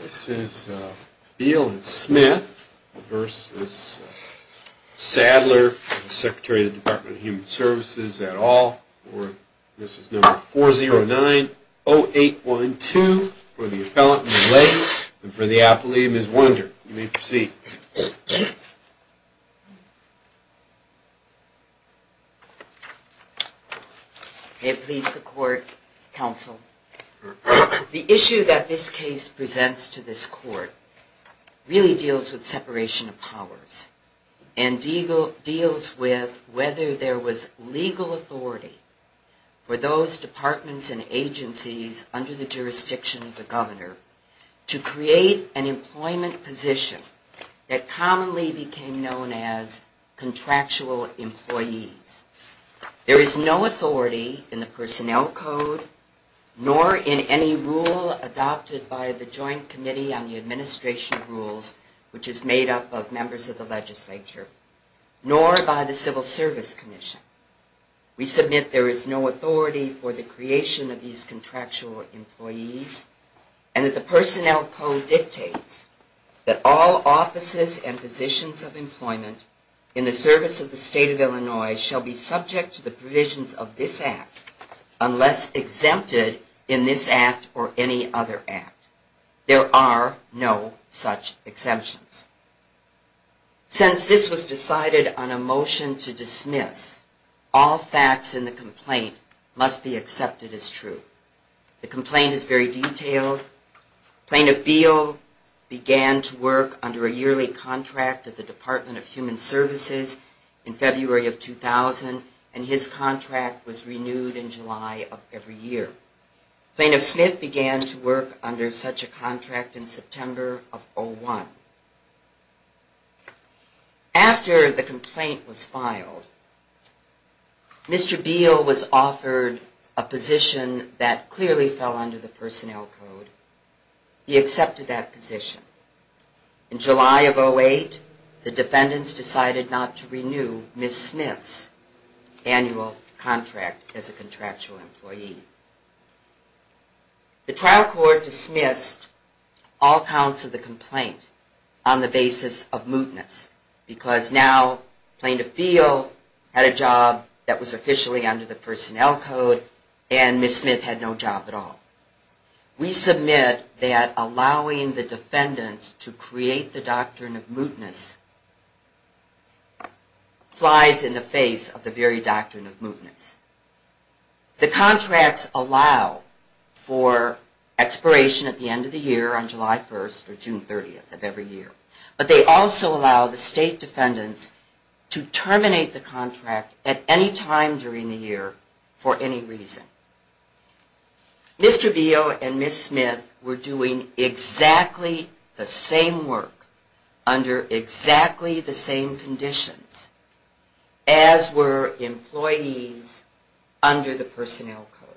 This is Beal and Smith v. Sadler, Secretary of the Department of Human Services at all. This is number 4090812 for the appellant, Ms. Lace, and for the appellee, Ms. Wonder. You may proceed. May it please the court, counsel. The issue that this case presents to this court really deals with separation of powers and deals with whether there was legal authority for those departments and agencies under the jurisdiction of the governor to create an employment position that commonly became known as contractual employees. There is no authority in the Personnel Code nor in any rule adopted by the Joint Committee on the Administration Rules, which is made up of members of the legislature, nor by the Civil Service Commission. We submit there is no authority for the creation of these contractual employees and that the Personnel Code dictates that all offices and positions of employment in the service of the State of Illinois shall be subject to the provisions of this Act unless exempted in this Act or any other Act. There are no such exemptions. Since this was decided on a motion to dismiss, all facts in the complaint must be accepted as true. The complaint is very detailed. Plaintiff Beal began to work under a yearly contract at the Department of Human Services in February of 2000 and his contract was renewed in July of every year. Plaintiff Smith began to work under such a contract in September of 2001. After the complaint was filed, Mr. Beal was offered a position that clearly fell under the Personnel Code. He accepted that position. In July of 2008, the defendants decided not to renew Ms. Smith's annual contract as a contractual employee. The trial court dismissed all counts of the complaint on the basis of mootness because now Plaintiff Beal had a job that was officially under the Personnel Code and Ms. Smith had no job at all. We submit that allowing the defendants to create the doctrine of mootness flies in the face of the very doctrine of mootness. The contracts allow for expiration at the end of the year on July 1st or June 30th of every year, but they also allow the state defendants to terminate the contract at any time during the year for any reason. Mr. Beal and Ms. Smith were doing exactly the same work under exactly the same conditions as were employees under the Personnel Code.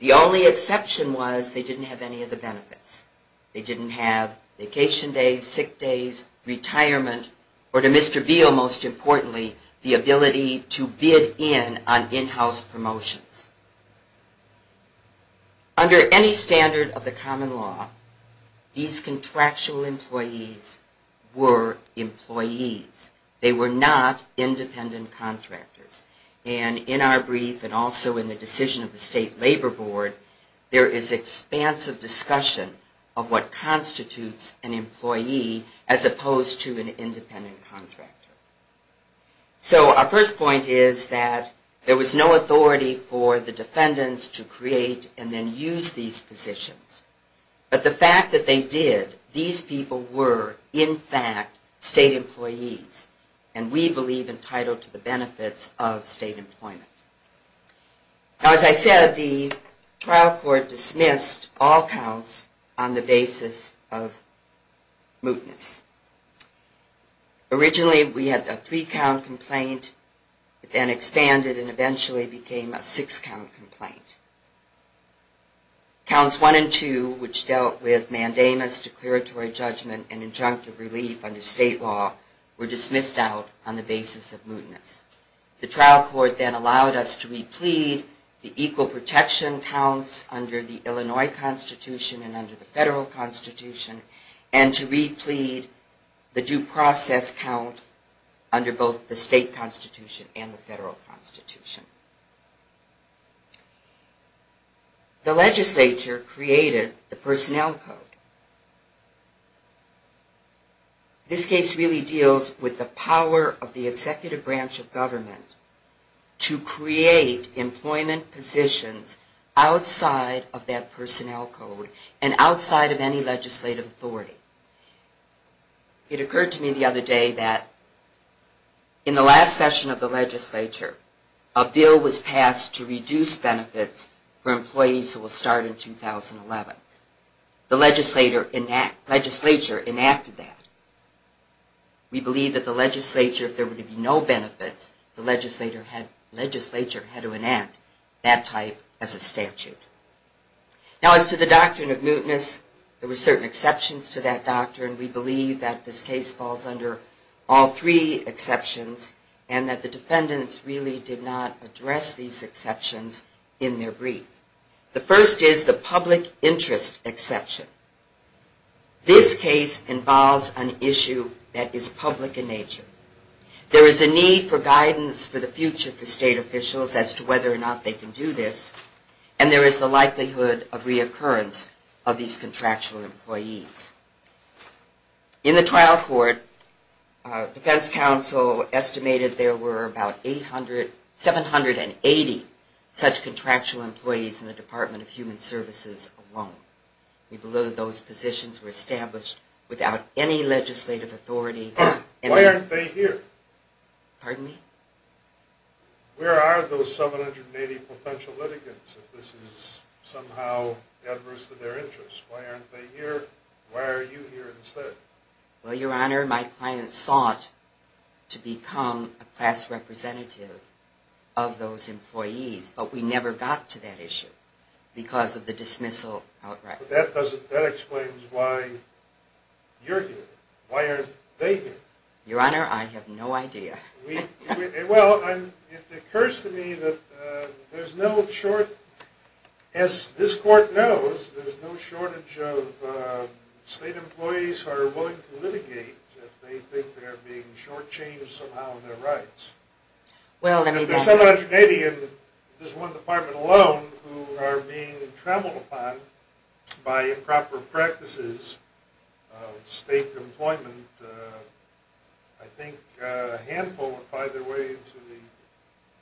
The only exception was they didn't have any of the benefits. They didn't have vacation days, sick days, retirement, or to Mr. Beal, most importantly, the ability to bid in on in-house promotions. Under any standard of the common law, these contractual employees were employees. They were not independent contractors. And in our brief and also in the decision of the State Labor Board, there is expansive discussion of what constitutes an employee as opposed to an independent contractor. So our first point is that there was no authority for the defendants to create and then use these positions. But the fact that they did, these people were, in fact, state employees. And we believe entitled to the benefits of state employment. Now, as I said, the trial court dismissed all counts on the basis of mootness. Originally, we had a three-count complaint. It then expanded and eventually became a six-count complaint. Counts one and two, which dealt with mandamus, declaratory judgment, and injunctive relief under state law, were dismissed out on the basis of mootness. The trial court then allowed us to re-plead the equal protection counts under the Illinois Constitution and under the Federal Constitution and to re-plead the due process count under both the state constitution and the federal constitution. The legislature created the Personnel Code. This case really deals with the power of the executive branch of government to create employment positions outside of that Personnel Code and outside of any legislative authority. It occurred to me the other day that in the last session of the legislature, a bill was passed to reduce benefits for employees who will start in 2011. The legislature enacted that. We believe that the legislature, if there were to be no benefits, the legislature had to enact that type as a statute. Now, as to the doctrine of mootness, there were certain exceptions to that doctrine. We believe that this case falls under all three exceptions and that the defendants really did not address these exceptions in their brief. The first is the public interest exception. This case involves an issue that is public in nature. There is a need for guidance for the future for state officials as to whether or not they can do this, and there is the likelihood of reoccurrence of these contractual employees. In the trial court, defense counsel estimated there were about 780 such contractual employees in the Department of Human Services alone. We believe those positions were established without any legislative authority. Why aren't they here? Where are those 780 potential litigants if this is somehow adverse to their interests? Why aren't they here? Why are you here instead? Well, Your Honor, my client sought to become a class representative of those employees, but we never got to that issue because of the dismissal outright. That explains why you're here. Why aren't they here? Your Honor, I have no idea. Well, it occurs to me that there's no shortage, as this court knows, there's no shortage of state employees who are willing to litigate if they think they're being shortchanged somehow in their rights. If there's 780 and there's one department alone who are being trampled upon by improper practices of state employment, I think a handful will find their way into the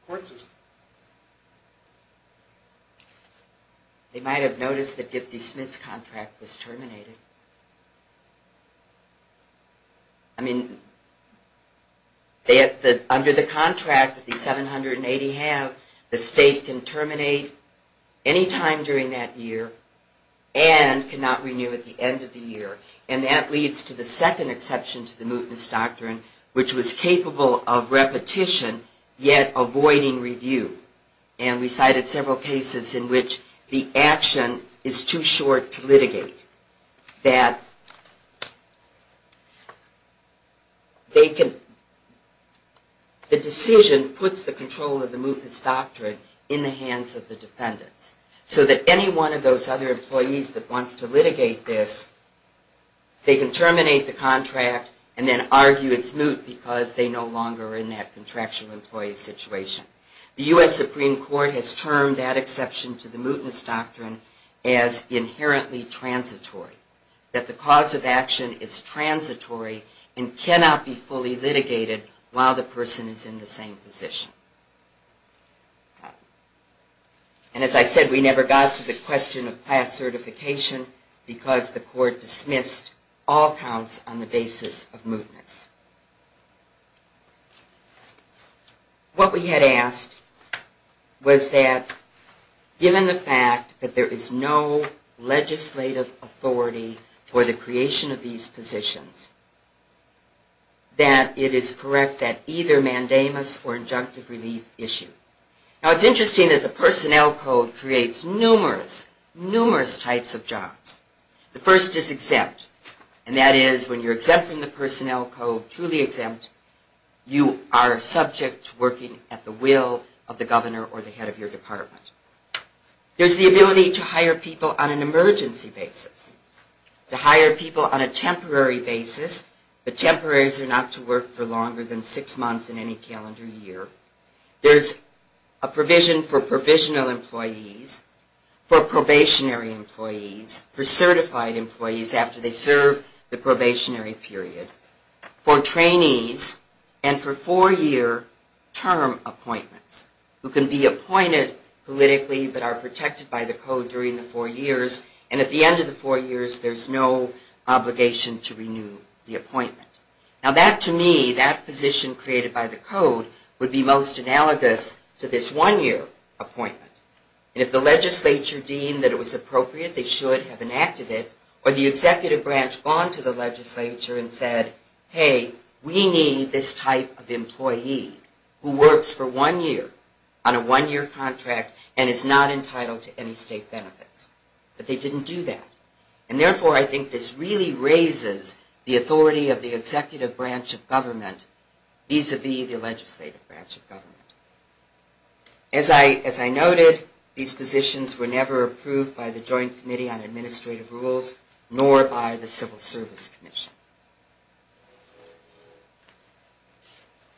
court system. They might have noticed that Gifty Smith's contract was terminated. I mean, under the contract that the 780 have, the state can terminate any time during that year and cannot renew at the end of the year. And that leads to the second exception to the mootness doctrine, which was capable of repetition, yet avoiding review. And we cited several cases in which the action is too short to litigate. The decision puts the control of the mootness doctrine in the hands of the defendants. So that any one of those other employees that wants to litigate this, they can terminate the contract and then argue it's moot because they no longer are in that contractual employee situation. The U.S. Supreme Court has termed that exception to the mootness doctrine as inherently transitory. That the cause of action is transitory and cannot be fully litigated while the person is in the same position. And as I said, we never got to the question of past certification because the court dismissed all counts on the basis of mootness. What we had asked was that given the fact that there is no legislative authority for the creation of these positions, that it is correct that either mandamus or injunctive relief issue. Now it's interesting that the personnel code creates numerous, numerous types of jobs. The first is exempt. And that is when you're exempt from the personnel code, truly exempt, you are subject to working at the will of the governor or the head of your department. There's the ability to hire people on an emergency basis. To hire people on a temporary basis. But temporaries are not to work for longer than six months in any calendar year. There's a provision for provisional employees, for probationary employees, for certified employees after they serve the probationary period, for trainees, and for four-year term appointments. Who can be appointed politically but are protected by the code during the four years and at the end of the four years there's no obligation to renew the appointment. Now that to me, that position created by the code, would be most analogous to this one-year appointment. And if the legislature deemed that it was appropriate, they should have enacted it, or the executive branch gone to the legislature and said, hey, we need this type of employee who works for one year on a one-year contract and is not entitled to any state benefits. But they didn't do that. And therefore I think this really raises the authority of the executive branch of government vis-a-vis the legislative branch of government. As I noted, these positions were never approved by the Joint Committee on Administrative Rules, nor by the Civil Service Commission.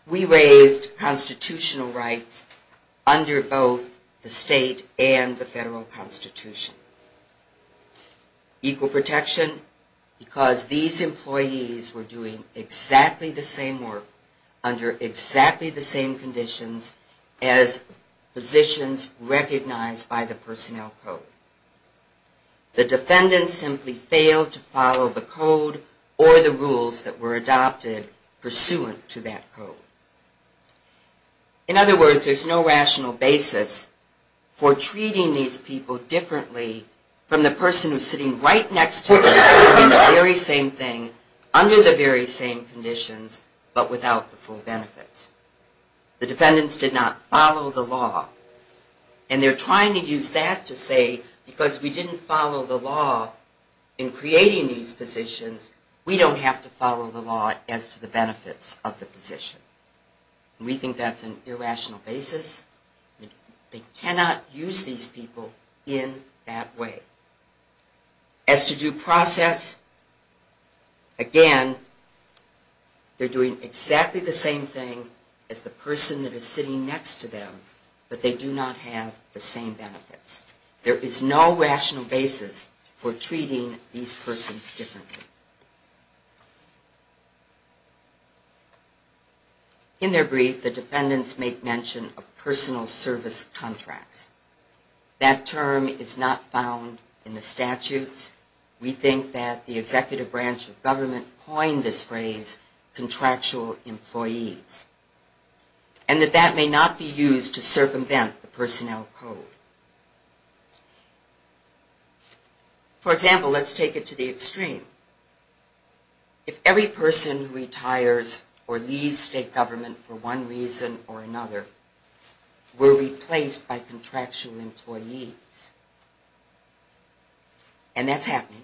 We raised constitutional rights under both the state and the federal constitution. Equal protection, because these employees were doing exactly the same work under exactly the same conditions as positions recognized by the personnel code. The defendants simply failed to follow the code or the rules that were adopted pursuant to that code. In other words, there's no rational basis for treating these people differently from the person who's sitting right next to them doing the very same thing, under the very same conditions, but without the full benefits. The defendants did not follow the law. And they're trying to use that to say, because we didn't follow the law in creating these positions, we don't have to follow the law as to the benefits of the position. And we think that's an irrational basis. They cannot use these people in that way. As to due process, again, they're doing exactly the same thing as the person that is sitting next to them, but they do not have the same benefits. There is no rational basis for treating these persons differently. In their brief, the defendants make mention of personal service contracts. That term is not found in the statutes. We think that the executive branch of government coined this phrase, contractual employees, and that that may not be used to circumvent the personnel code. For example, let's take it to the extreme. If every person who retires or leaves state government for one reason or another were replaced by contractual employees, and that's happening,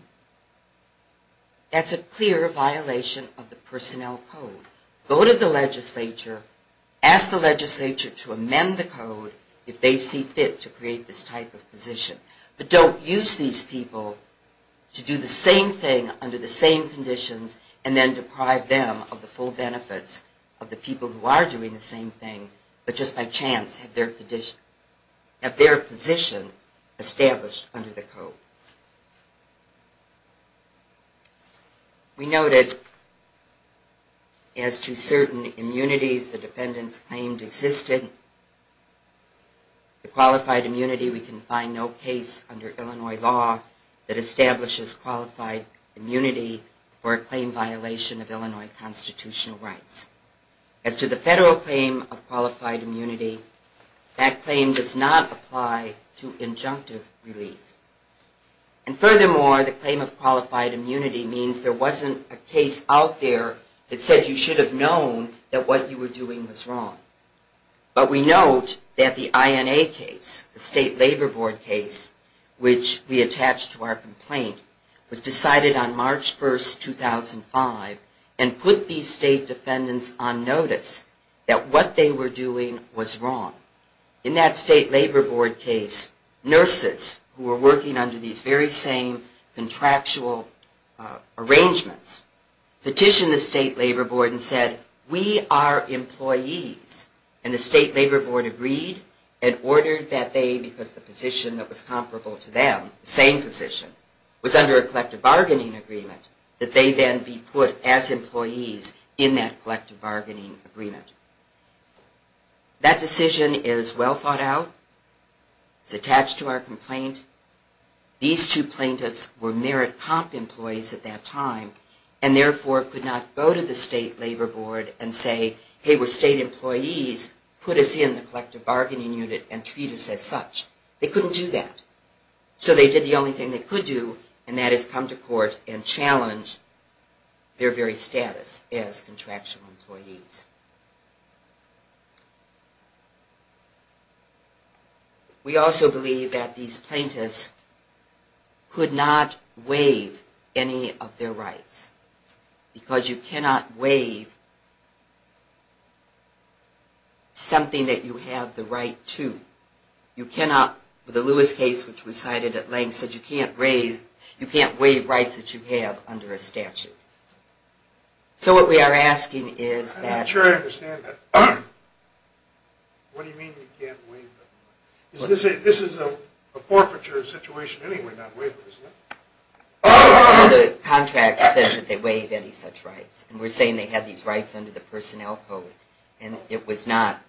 that's a clear violation of the personnel code. Go to the legislature, ask the legislature to amend the code if they see fit to create this type of position. But don't use these people to do the same thing under the same conditions and then deprive them of the full benefits of the people who are doing the same thing, but just by chance have their position established under the code. We noted as to certain immunities the defendants claimed existed. Qualified immunity, we can find no case under Illinois law that establishes qualified immunity for a claim violation of Illinois constitutional rights. As to the federal claim of qualified immunity, that claim does not apply to injunctive relief. And furthermore, the claim of qualified immunity means there wasn't a case out there that said you should have known that what you were doing was wrong. But we note that the INA case, the State Labor Board case, which we attached to our complaint, was decided on March 1, 2005, and put these state defendants on notice that what they were doing was wrong. In that State Labor Board case, nurses who were working under these very same contractual arrangements, petitioned the State Labor Board and said, we are employees. And the State Labor Board agreed and ordered that they, because the position that was comparable to them, the same position, was under a collective bargaining agreement, that they then be put as employees in that collective bargaining agreement. That decision is well thought out. It's attached to our complaint. These two plaintiffs were merit comp employees at that time, and therefore could not go to the State Labor Board and say, hey, we're state employees, put us in the collective bargaining unit and treat us as such. They couldn't do that. So they did the only thing they could do, and that is come to court and challenge their very status as contractual employees. We also believe that these plaintiffs could not waive any of their rights, because you cannot waive something that you have the right to. You cannot, with the Lewis case, which was cited at length, said you can't raise, you can't waive rights that you have under a statute. So what we are asking is that... I'm not sure I understand that. What do you mean you can't waive them? This is a forfeiture situation anyway, not waiver, isn't it? Oh, the contract says that they waive any such rights. And we're saying they have these rights under the personnel code. And it was not,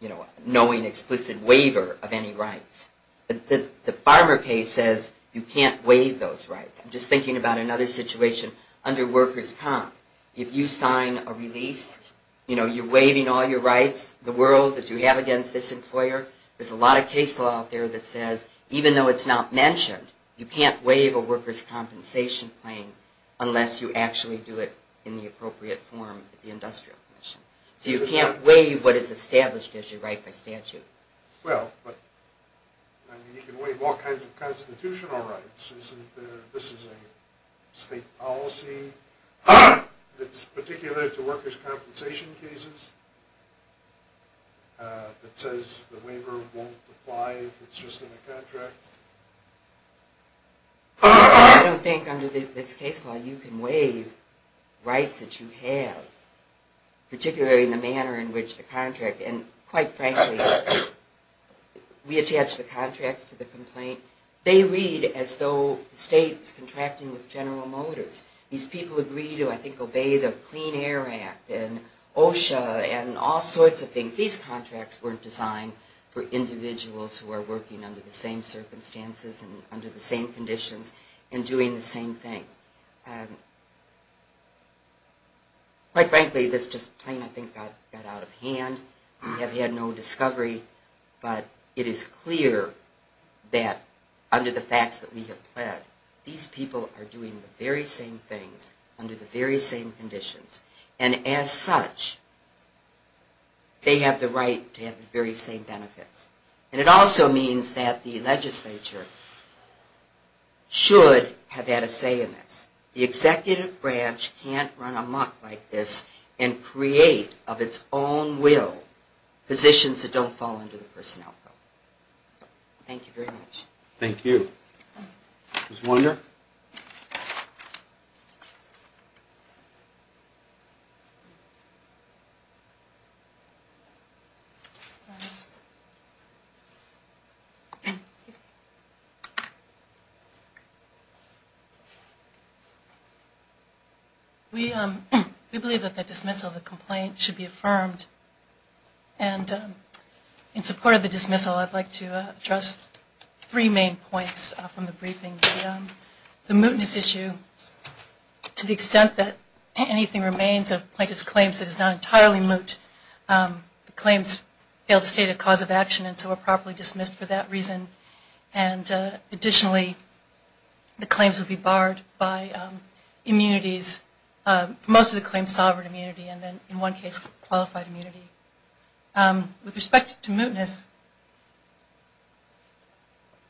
you know, knowing explicit waiver of any rights. But the Farmer case says you can't waive those rights. I'm just thinking about another situation under workers' comp. If you sign a release, you know, you're waiving all your rights, the world that you have against this employer. There's a lot of case law out there that says even though it's not mentioned, you can't waive a workers' compensation claim unless you actually do it in the appropriate form at the industrial commission. So you can't waive what is established as your right by statute. Well, but you can waive all kinds of constitutional rights, isn't there? This is a state policy that's particular to workers' compensation cases. It says the waiver won't apply if it's just in a contract. I don't think under this case law you can waive rights that you have. Particularly in the manner in which the contract, and quite frankly, we attach the contracts to the complaint. They read as though the state's contracting with General Motors. These people agree to, I think, obey the Clean Air Act and OSHA and all sorts of things. These contracts weren't designed for individuals who are working under the same circumstances and under the same conditions and doing the same thing. Quite frankly, this just plain, I think, got out of hand. We have had no discovery, but it is clear that under the facts that we have pled, these people are doing the very same things under the very same conditions. And as such, they have the right to have the very same benefits. And it also means that the legislature should have had a say in this. The executive branch can't run amok like this and create of its own will positions that don't fall under the personnel code. Thank you very much. Thank you. We believe that the dismissal of the complaint should be affirmed. And in support of the dismissal, I'd like to address three main points from the briefing. The mootness issue, to the extent that anything remains of plaintiff's claims that is not entirely moot. The claims fail to state a cause of action and so are properly dismissed for that reason. And additionally, the claims would be barred by immunities, most of the claims sovereign immunity and then in one case, qualified immunity. With respect to mootness,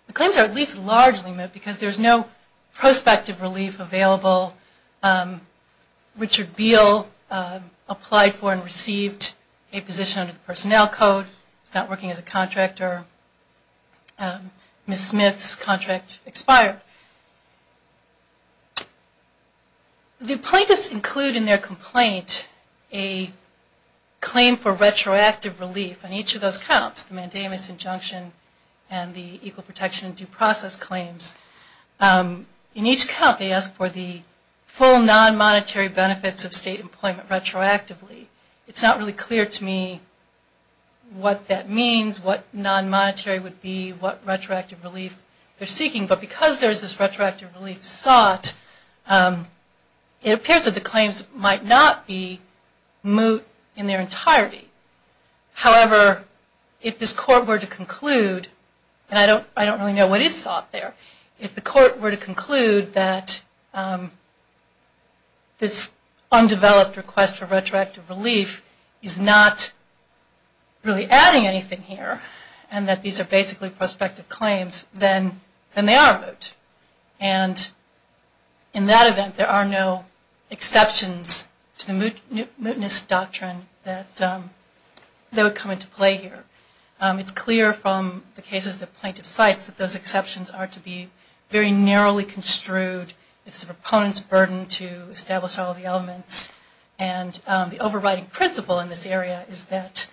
the claims are at least largely moot because there is no prospective relief available. Richard Beal applied for and received a position under the personnel code. He's not working as a contractor. Ms. Smith's contract expired. The plaintiffs include in their complaint a claim for retroactive relief on each of those counts. The mandamus injunction and the equal protection and due process claims. In each count, they ask for the full non-monetary benefits of state employment retroactively. It's not really clear to me what that means, what non-monetary would be, what retroactive relief they're seeking. But because there is this retroactive relief sought, it appears that the claims might not be moot in their entirety. However, if this court were to conclude, and I don't really know what is sought there, if the court were to conclude that this undeveloped request for retroactive relief would be moot, and that retroactive relief is not really adding anything here, and that these are basically prospective claims, then they are moot. And in that event, there are no exceptions to the mootness doctrine that would come into play here. It's clear from the cases the plaintiff cites that those exceptions are to be very narrowly construed. It's the proponent's burden to establish all the elements. And the overriding principle in this area is that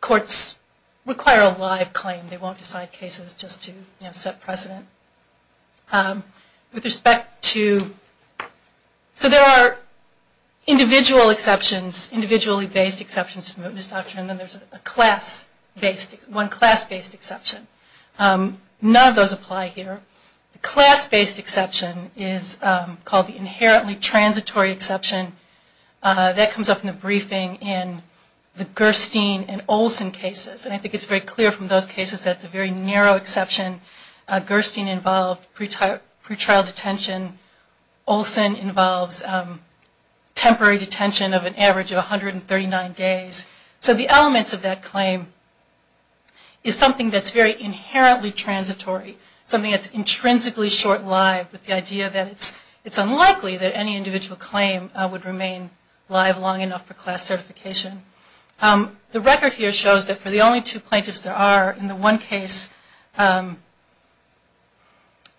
courts require a live claim. They won't decide cases just to set precedent. So there are individual exceptions, individually based exceptions to the mootness doctrine, and then there's one class-based exception. None of those apply here. The class-based exception is called the inherently transitory exception. That comes up in the briefing in the Gerstein and Olson cases. And I think it's very clear from those cases that it's a very narrow exception. Gerstein involved pretrial detention. Olson involves temporary detention of an average of 139 days. So the elements of that claim is something that's very inherently transitory. Something that's intrinsically short-lived with the idea that it's unlikely that any individual claim would remain live long enough for class certification. The record here shows that for the only two plaintiffs there are, in the one case,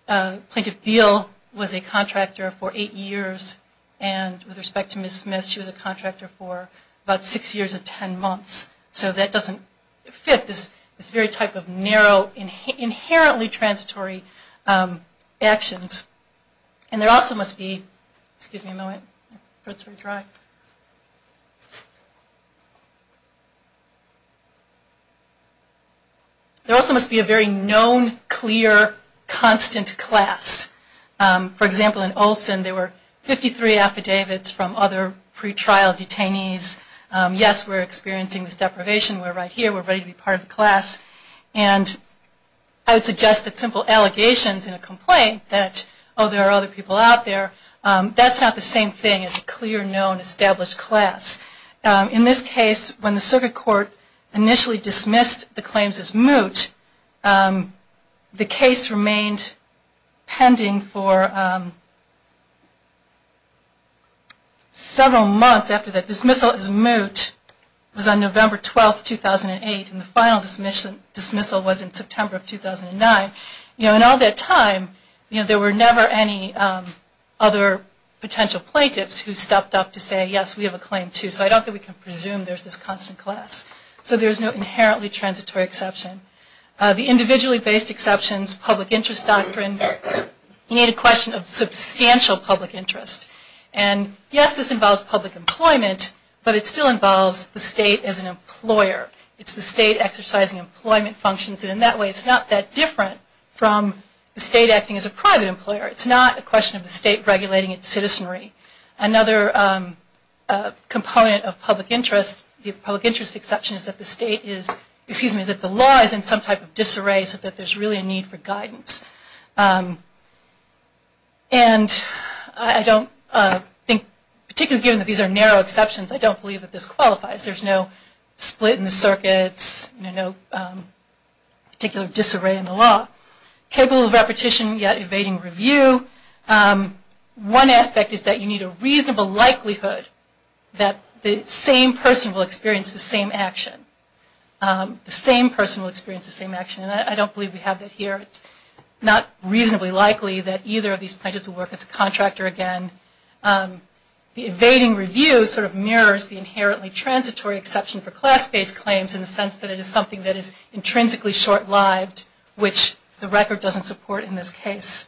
Plaintiff Beal was a contractor for eight years. And with respect to Ms. Smith, she was a contractor for about six years and ten months. So that doesn't fit this very type of narrow, inherently transitory actions. There also must be a very known, clear, constant class. For example, in Olson there were 53 affidavits from other pretrial detainees. Yes, we're experiencing this deprivation, we're right here, we're ready to be part of the class. And I would suggest that simple allegations in a complaint that, oh, there are other people out there, that's not the same thing as a clear, known, established class. In this case, when the circuit court initially dismissed the claims as moot, the case remained pending for several months after the dismissal as moot. It was on November 12, 2008, and the final dismissal was in September of 2009. In all that time, there were never any other potential plaintiffs who stepped up to say, yes, we have a claim too. So I don't think we can presume there's this constant class. So there's no inherently transitory exception. The individually based exceptions, public interest doctrine, you need a question of substantial public interest. And yes, this involves public employment, but it still involves the state as an employer. It's the state exercising employment functions, and in that way it's not that different from the state acting as a private employer. It's not a question of the state regulating its citizenry. Another component of public interest, the public interest exception, is that the state is, excuse me, that the law is in some type of disarray, so that there's really a need for guidance. And I don't think, particularly given that these are narrow exceptions, I don't believe that this qualifies. There's no split in the circuits, no particular disarray in the law. Capable of repetition, yet evading review. One aspect is that you need a reasonable likelihood that the same person will experience the same action. The same person will experience the same action, and I don't believe we have that here. It's not reasonably likely that either of these pledges will work as a contractor again. The evading review sort of mirrors the inherently transitory exception for class-based claims in the sense that it is something that is intrinsically short-lived, which the record doesn't support in this case.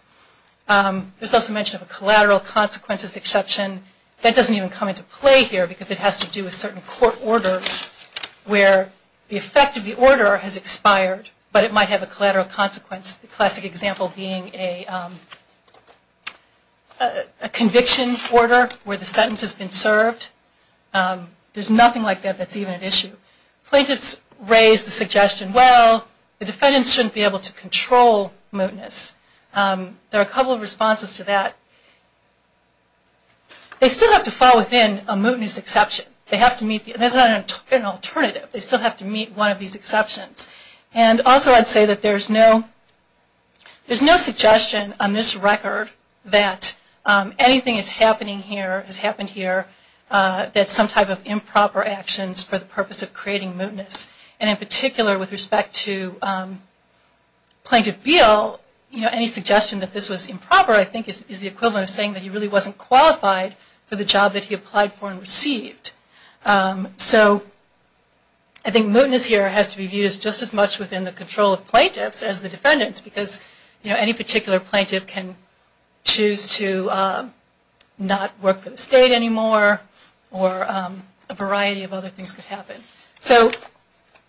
There's also mention of a collateral consequences exception. That doesn't even come into play here because it has to do with certain court orders where the effect of the order has expired, but it might have a collateral consequence, the classic example being a conviction order where the sentence has been served. There's nothing like that that's even an issue. Plaintiffs raise the suggestion, well, the defendants shouldn't be able to control mootness. There are a couple of responses to that. They still have to fall within a mootness exception. That's not an alternative. They still have to meet one of these exceptions. Also, I'd say that there's no suggestion on this record that anything is happening here that's some type of improper actions for the purpose of creating mootness. In particular, with respect to Plaintiff Beall, any suggestion that this was improper I think is the equivalent of saying that he really wasn't qualified for the job that he applied for and received. I think mootness here has to be used just as much within the control of plaintiffs as the defendants because any particular plaintiff can choose to not work for the state anymore or a variety of other things could happen.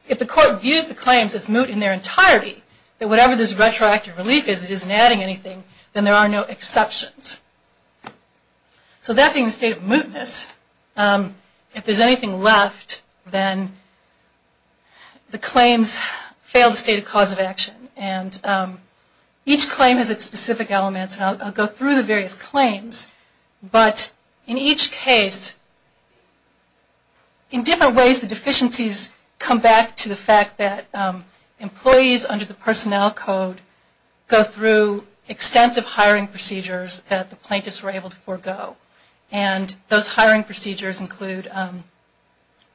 If the court views the claims as moot in their entirety, that whatever this retroactive relief is, it isn't adding anything, then there are no exceptions. That being the state of mootness, if there's anything left, then the claims fail the stated cause of action. Each claim has its specific elements. I'll go through the various claims, but in each case, in different ways, the deficiencies come back to the fact that employees under the personnel code go through extensive hiring procedures that the plaintiffs were able to forego. And those hiring procedures include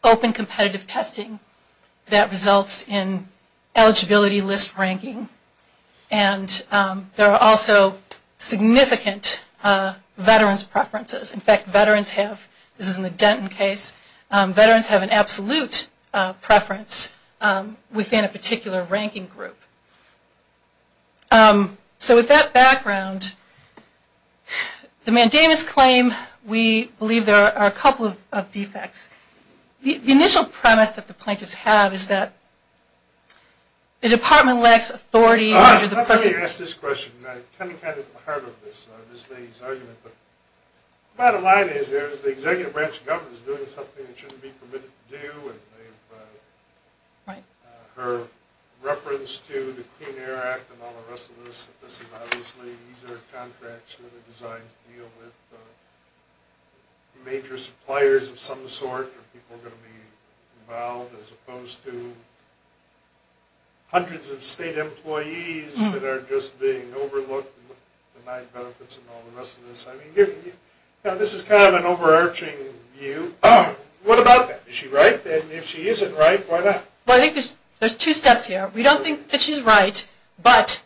open competitive testing that results in eligibility list ranking and there are also significant veterans' preferences. In fact, veterans have, this is in the Denton case, veterans have an absolute preference within a particular ranking group. So with that background, the mandamus claim, we believe there are a couple of defects. The initial premise that the plaintiffs have is that the department lacks authority under the precedent... Let me ask this question. I kind of had it at the heart of this lady's argument. Bottom line is, the executive branch of government is doing something that shouldn't be permitted to do. Her reference to the Clean Air Act and all the rest of this, this is obviously these are contracts that are designed to deal with major suppliers of some sort, where people are going to be involved, as opposed to hundreds of state employees that are just being overlooked and denied benefits and all the rest of this. This is kind of an overarching view. What about that? Is she right? And if she isn't right, why not? Well, I think there's two steps here. We don't think that she's right, but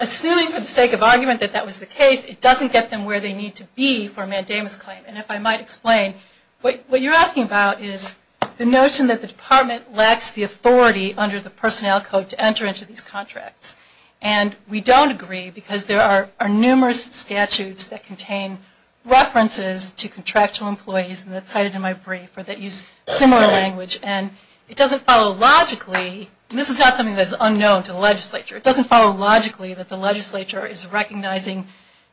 assuming for the sake of argument that that was the case, it doesn't get them where they need to be for a mandamus claim. And if I might explain, what you're asking about is the notion that the department lacks the authority under the personnel code to enter into these contracts. And we don't agree because there are numerous statutes that contain references to contractual employees, and that's cited in my brief, that use similar language. And it doesn't follow logically, and this is not something that's unknown to the legislature, it doesn't follow logically that the legislature is recognizing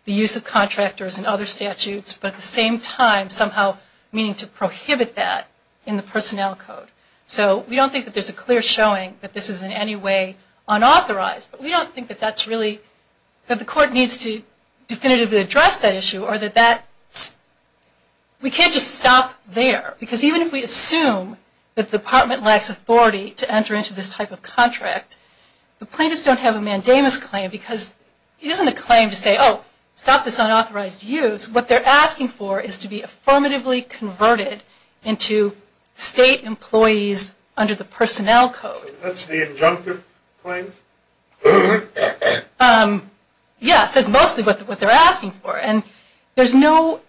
the use of contractors and other statutes, but at the same time somehow meaning to prohibit that in the personnel code. So we don't think that there's a clear showing that this is in any way unauthorized. But we don't think that that's really, that the court needs to definitively address that issue or that that's, we can't just stop there. Because even if we assume that the department lacks authority to enter into this type of contract, the plaintiffs don't have a mandamus claim because it isn't a claim to say, oh, stop this unauthorized use. What they're asking for is to be affirmatively converted into state employees under the personnel code. So that's the injunctive claims? Yes, that's mostly what they're asking for. And there's no,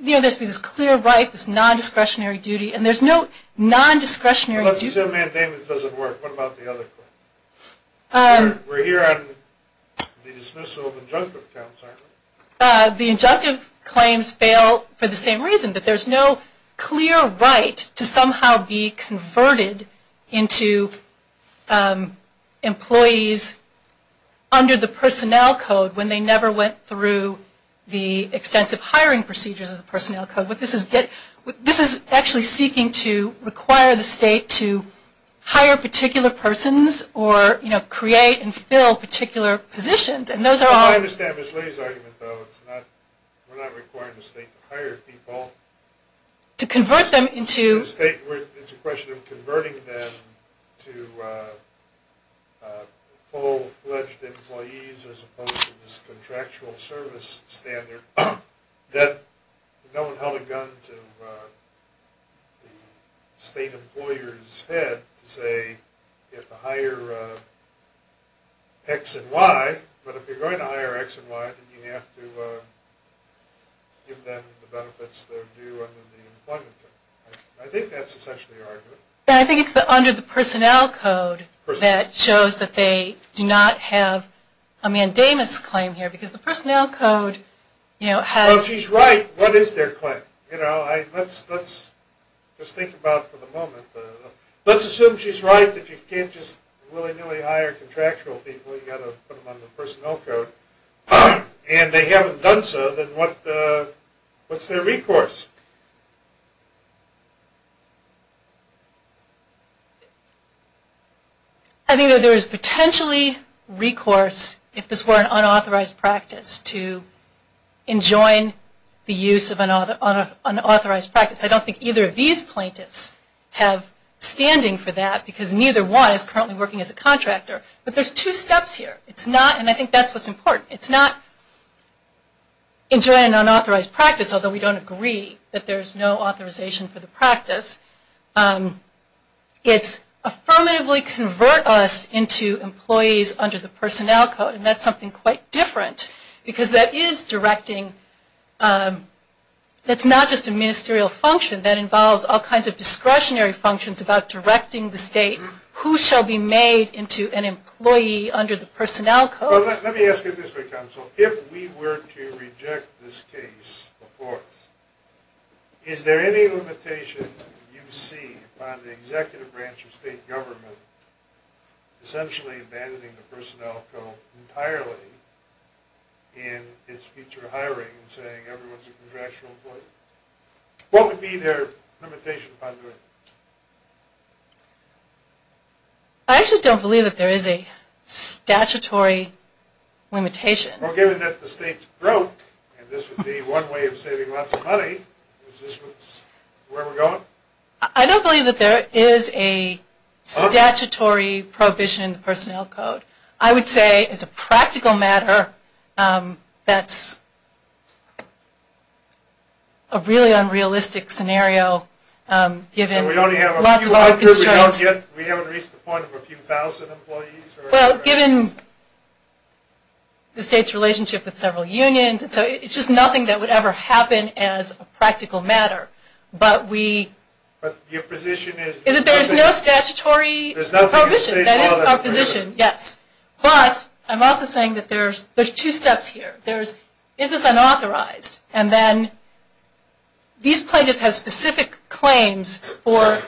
you know, there's this clear right, this non-discretionary duty, and there's no non-discretionary What about the other claims? We're here on the dismissal of injunctive claims, aren't we? The injunctive claims fail for the same reason, that there's no clear right to somehow be converted into employees under the personnel code when they never went through the extensive hiring procedures of the personnel code. This is actually seeking to require the state to hire particular persons or, you know, create and fill particular positions, and those are I understand Ms. Lee's argument, though, it's not, we're not requiring the state to hire people. To convert them into It's a question of converting them to full-fledged employees as opposed to this contractual service standard that no one held a gun to the state employer's head to say you have to hire X and Y, but if you're going to hire X and Y, then you have to give them the benefits they're due under the employment code. I think that's essentially your argument. I think it's under the personnel code that shows that they do not have a mandamus claim here, because the personnel code Well, if she's right, what is their claim? Let's just think about for the moment, let's assume she's right that you can't just willy-nilly hire contractual people, you've got to put them on the personnel code, and they haven't done so, then what what's their recourse? I think that there is potentially recourse, if this were an unauthorized practice, to enjoin the use of an unauthorized practice. I don't think either of these plaintiffs have standing for that, because neither one is currently working as a contractor. But there's two steps here. It's not, and I think that's what's important, it's not to enjoin an unauthorized practice, although we don't agree that there's no authorization for the practice. It's affirmatively convert us into employees under the personnel code, and that's something quite different, because that is directing that's not just a ministerial function, that involves all kinds of discretionary functions about directing the state, who shall be made into an employee under the personnel code. Let me ask you this way, counsel. If we were to reject this case before us, is there any limitation you see on the executive branch of state government essentially abandoning the personnel code entirely in its future hiring, saying everyone's a contractual employee? What would be their limitation upon doing that? I actually don't believe that there is a limitation. Well, given that the state's broke, and this would be one way of saving lots of money, is this where we're going? I don't believe that there is a statutory prohibition in the personnel code. I would say, as a practical matter, that's a really unrealistic scenario, given lots of other constraints. We haven't reached the point of a few thousand employees? Well, given the state's relationship with several unions, it's just nothing that would ever happen as a practical matter. But your position is that there is no statutory prohibition. That is our position, yes. But I'm also saying that there's two steps here. This is unauthorized, and then these plaintiffs have specific claims for a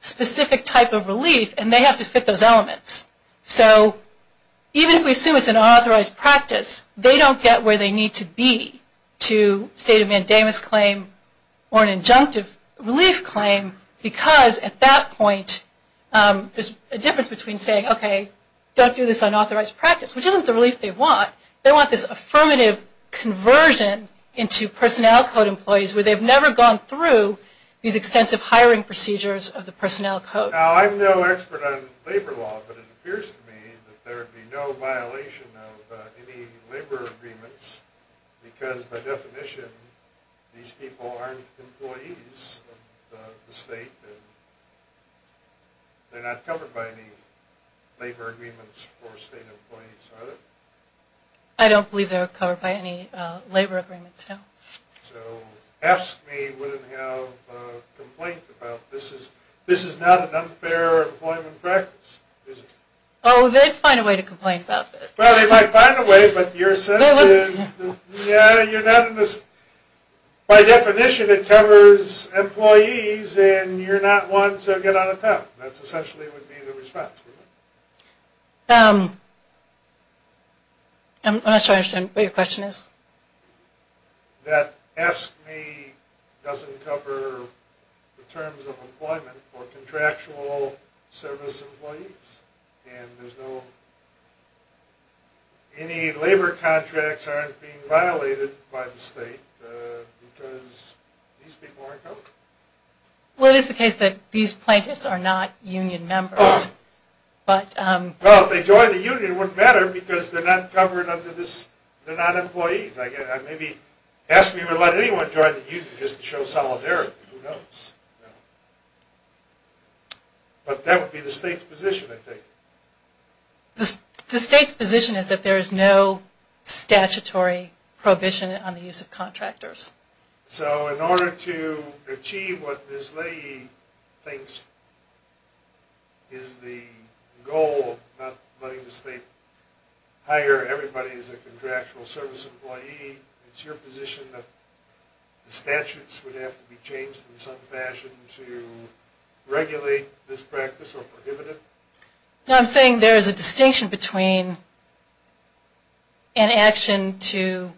specific type of relief, and they have to fit those elements. So even if we assume it's an unauthorized practice, they don't get where they need to be to state a mandamus claim or an injunctive relief claim because, at that point, there's a difference between saying, okay, don't do this unauthorized practice, which isn't the relief they want. They want this affirmative conversion into personnel code employees Now, I'm no expert on labor law, but it appears to me that there would be no violation of any labor agreements because, by definition, these people aren't employees of the state, and they're not covered by any labor agreements for state employees, are they? I don't believe they're covered by any labor agreements, no. So AFSCME wouldn't have a complaint about, this is not an unfair employment practice, is it? Oh, they'd find a way to complain about this. Well, they might find a way, but your sense is, yeah, you're not in this by definition, it covers employees, and you're not one to get out of town. That's essentially what would be the response. I'm not sure I understand what your question is. That AFSCME doesn't cover the terms of employment for contractual service employees, and there's no any labor contracts aren't being violated by the state because these people aren't covered. Well, it is the case that these plaintiffs are not union members. Well, if they joined the union, it wouldn't matter because they're not covered under this, they're not employees. Maybe AFSCME would let anyone join the union just to show solidarity, who knows? But that would be the state's position, I think. The state's position is that there is no statutory prohibition on the use of contractors. So in order to achieve what Ms. Leahy thinks is the goal of not letting the state hire everybody as a contractual service employee, it's your position that the statutes would have to be changed in some fashion to regulate this practice or prohibit it? No, I'm saying there is a distinction between an action to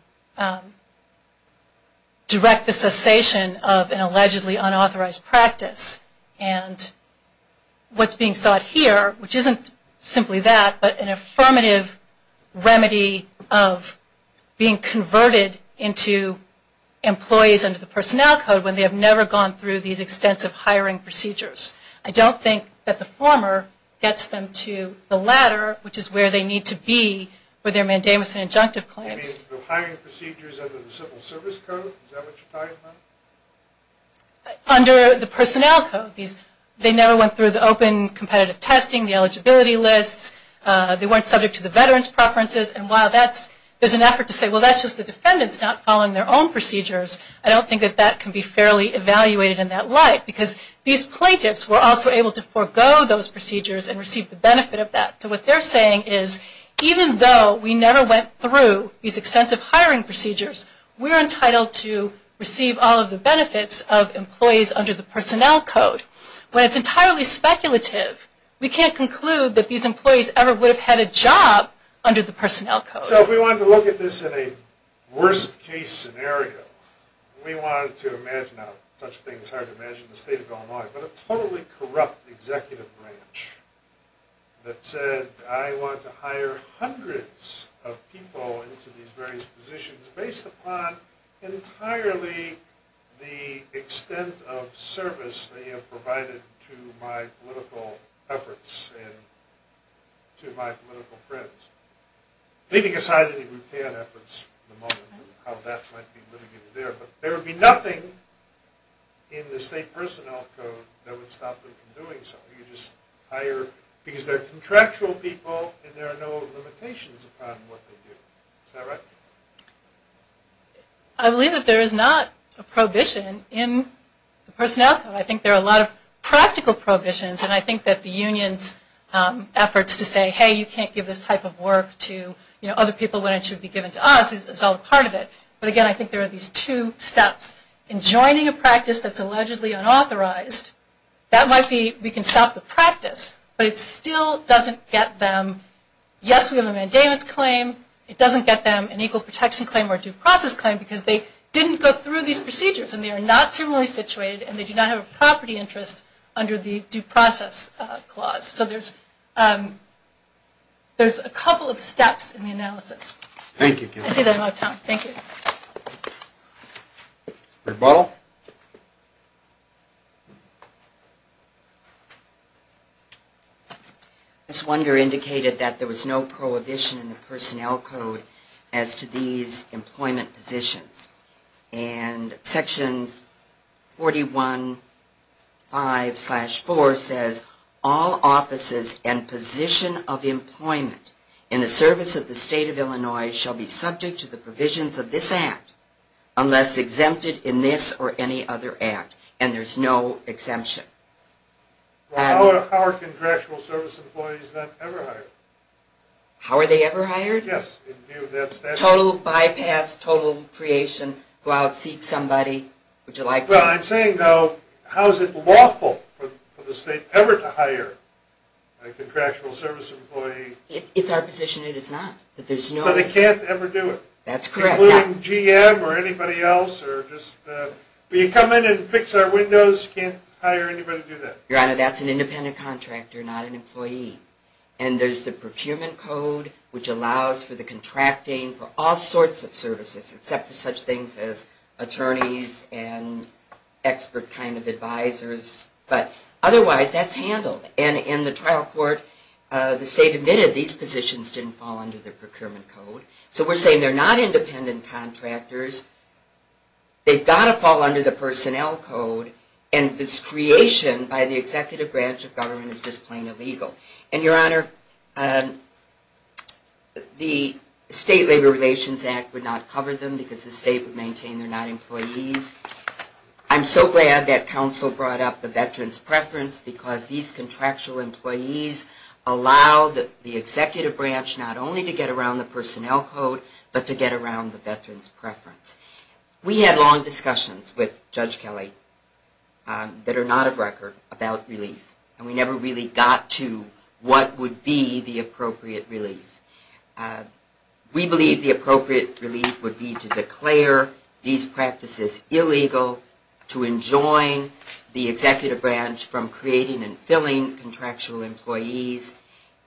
direct the cessation of an allegedly unauthorized practice and what's being sought here, which isn't simply that, but an affirmative remedy of being converted into employees under the Personnel Code when they have never gone through these extensive hiring procedures. I don't think that the former gets them to the latter, which is where they need to be for their mandamus and injunctive claims. You mean the hiring procedures under the Civil Service Code? Is that what you're talking about? Under the Personnel Code, they never went through the open competitive testing, the eligibility lists, they weren't subject to the veterans' preferences, and while there's an effort to say, well, that's just the defendants not following their own procedures, I don't think that that can be fairly evaluated in that light because these plaintiffs were also able to forego those procedures and receive the benefit of that. So what they're saying is even though we never went through these extensive hiring procedures, we're entitled to receive all of the benefits of employees under the Personnel Code. When it's entirely speculative, we can't conclude that these employees ever would have had a job under the Personnel Code. So if we wanted to look at this in a worst case scenario, we wanted to imagine, now such a thing is hard to imagine in the state of Illinois, but a totally corrupt executive branch that said, I want to hire hundreds of people into these various positions based upon entirely the extent of service they have provided to my political efforts and to my political friends. Leaving aside any efforts at the moment, how that might be litigated there, but there would be nothing in the state Personnel Code that would stop them from doing so. You just hire, because they're contractual people and there are no limitations upon what they do. Is that right? I believe that there is not a prohibition in the Personnel Code. I think there are a lot of practical prohibitions and I think that the union's efforts to say, hey, you can't give this type of work to other people when it should be given to us is all part of it. But again, I think there are these two steps. In joining a practice that's allegedly unauthorized, that might be, we can stop the practice, but it still doesn't get them, yes, we have a mandamus claim, it doesn't get them an equal protection claim or due process claim because they didn't go through these procedures and they are not similarly situated and they do not have a property interest under the due process clause. So there's a couple of steps in the analysis. I see that I'm out of time. Thank you. This wonder indicated that there was no prohibition in the Personnel Code as to these employment positions. And Section 41.5-4 says, all offices and position of employment in the service of the State of Illinois shall be subject to the provisions of this Act unless exempted in this or any other Act. And there's no exemption. How are contractual service employees then ever hired? How are they ever hired? Yes. Total bypass, total creation, go out seek somebody. Well, I'm saying though, how is it lawful for the State ever to hire a contractual service employee? It's our position it is not. So they can't ever do it? That's correct. Including GM or anybody else or just you come in and fix our windows, you can't hire anybody to do that? Your Honor, that's an independent contractor, not an employee. And there's the exception of contracting for all sorts of services except for such things as attorneys and expert kind of advisors. But otherwise, that's handled. And in the trial court the State admitted these positions didn't fall under the Procurement Code. So we're saying they're not independent contractors. They've got to fall under the Personnel Code. And this creation by the Executive Branch of Government is just plain illegal. And Your Honor, the State Labor Relations Act would not cover them because the State would maintain they're not employees. I'm so glad that counsel brought up the Veteran's Preference because these contractual employees allow the Executive Branch not only to get around the Personnel Code but to get around the Veteran's Preference. We had long discussions with Judge Kelly that are not of record about relief. And we never really got to what would be the appropriate relief. We believe the appropriate relief would be to declare these practices illegal, to enjoin the Executive Branch from creating and filling contractual employees,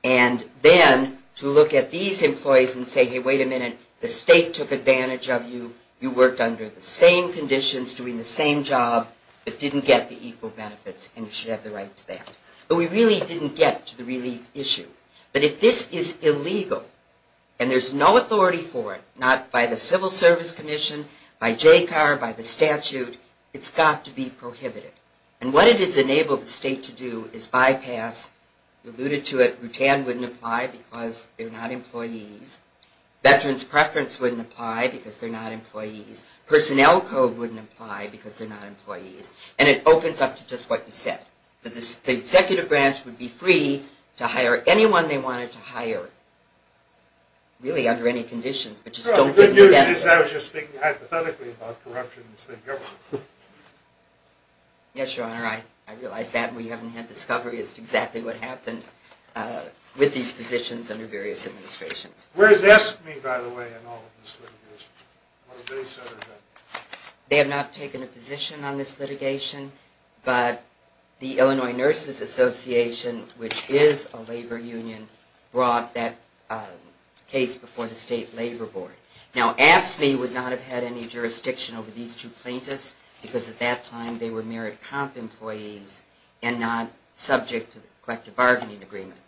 and then to look at these employees and say, hey, wait a minute, the State took advantage of you. You worked under the same conditions, doing the same job, but didn't get the equal benefits and you should have the right to that. But we really didn't get to the relief issue. But if this is illegal and there's no authority for it, not by the Civil Service Commission, by JCAR, by the statute, it's got to be prohibited. And what it has enabled the State to do is bypass, alluded to it, Rutan wouldn't apply because they're not employees. Veteran's Preference wouldn't apply because they're not employees. Personnel Code wouldn't apply because they're not employees. And it opens up to just what you said. The Executive Branch would be free to hire anyone they wanted to hire really under any conditions, but just don't give them the benefits. I was just thinking hypothetically about corruption in the State government. Yes, Your Honor, I realize that and we haven't had discovery as to exactly what happened with these positions under various administrations. Where is ESME, by the way, in all of this litigation? They have not taken a position on this litigation. But the Illinois Nurses Association, which is a labor union, brought that case before the State Labor Board. Now ESME would not have had any jurisdiction over these two plaintiffs because at that time they were merit comp employees and not subject to the collective bargaining agreement.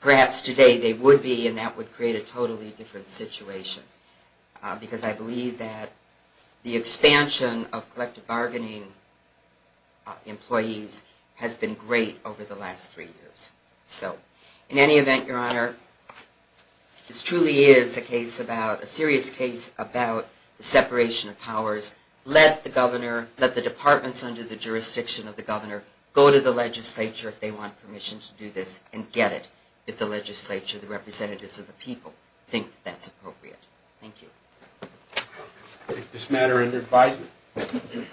Perhaps today they would be and that would create a totally different situation because I believe that the expansion of collective bargaining employees has been great over the last three years. In any event, Your Honor, this truly is a case about a serious case about the separation of powers. Let the governor, let the departments under the jurisdiction of the governor go to the legislature if they want permission to do this and get it if the legislature, the representatives of the people, think that that's appropriate. Thank you. Thank you.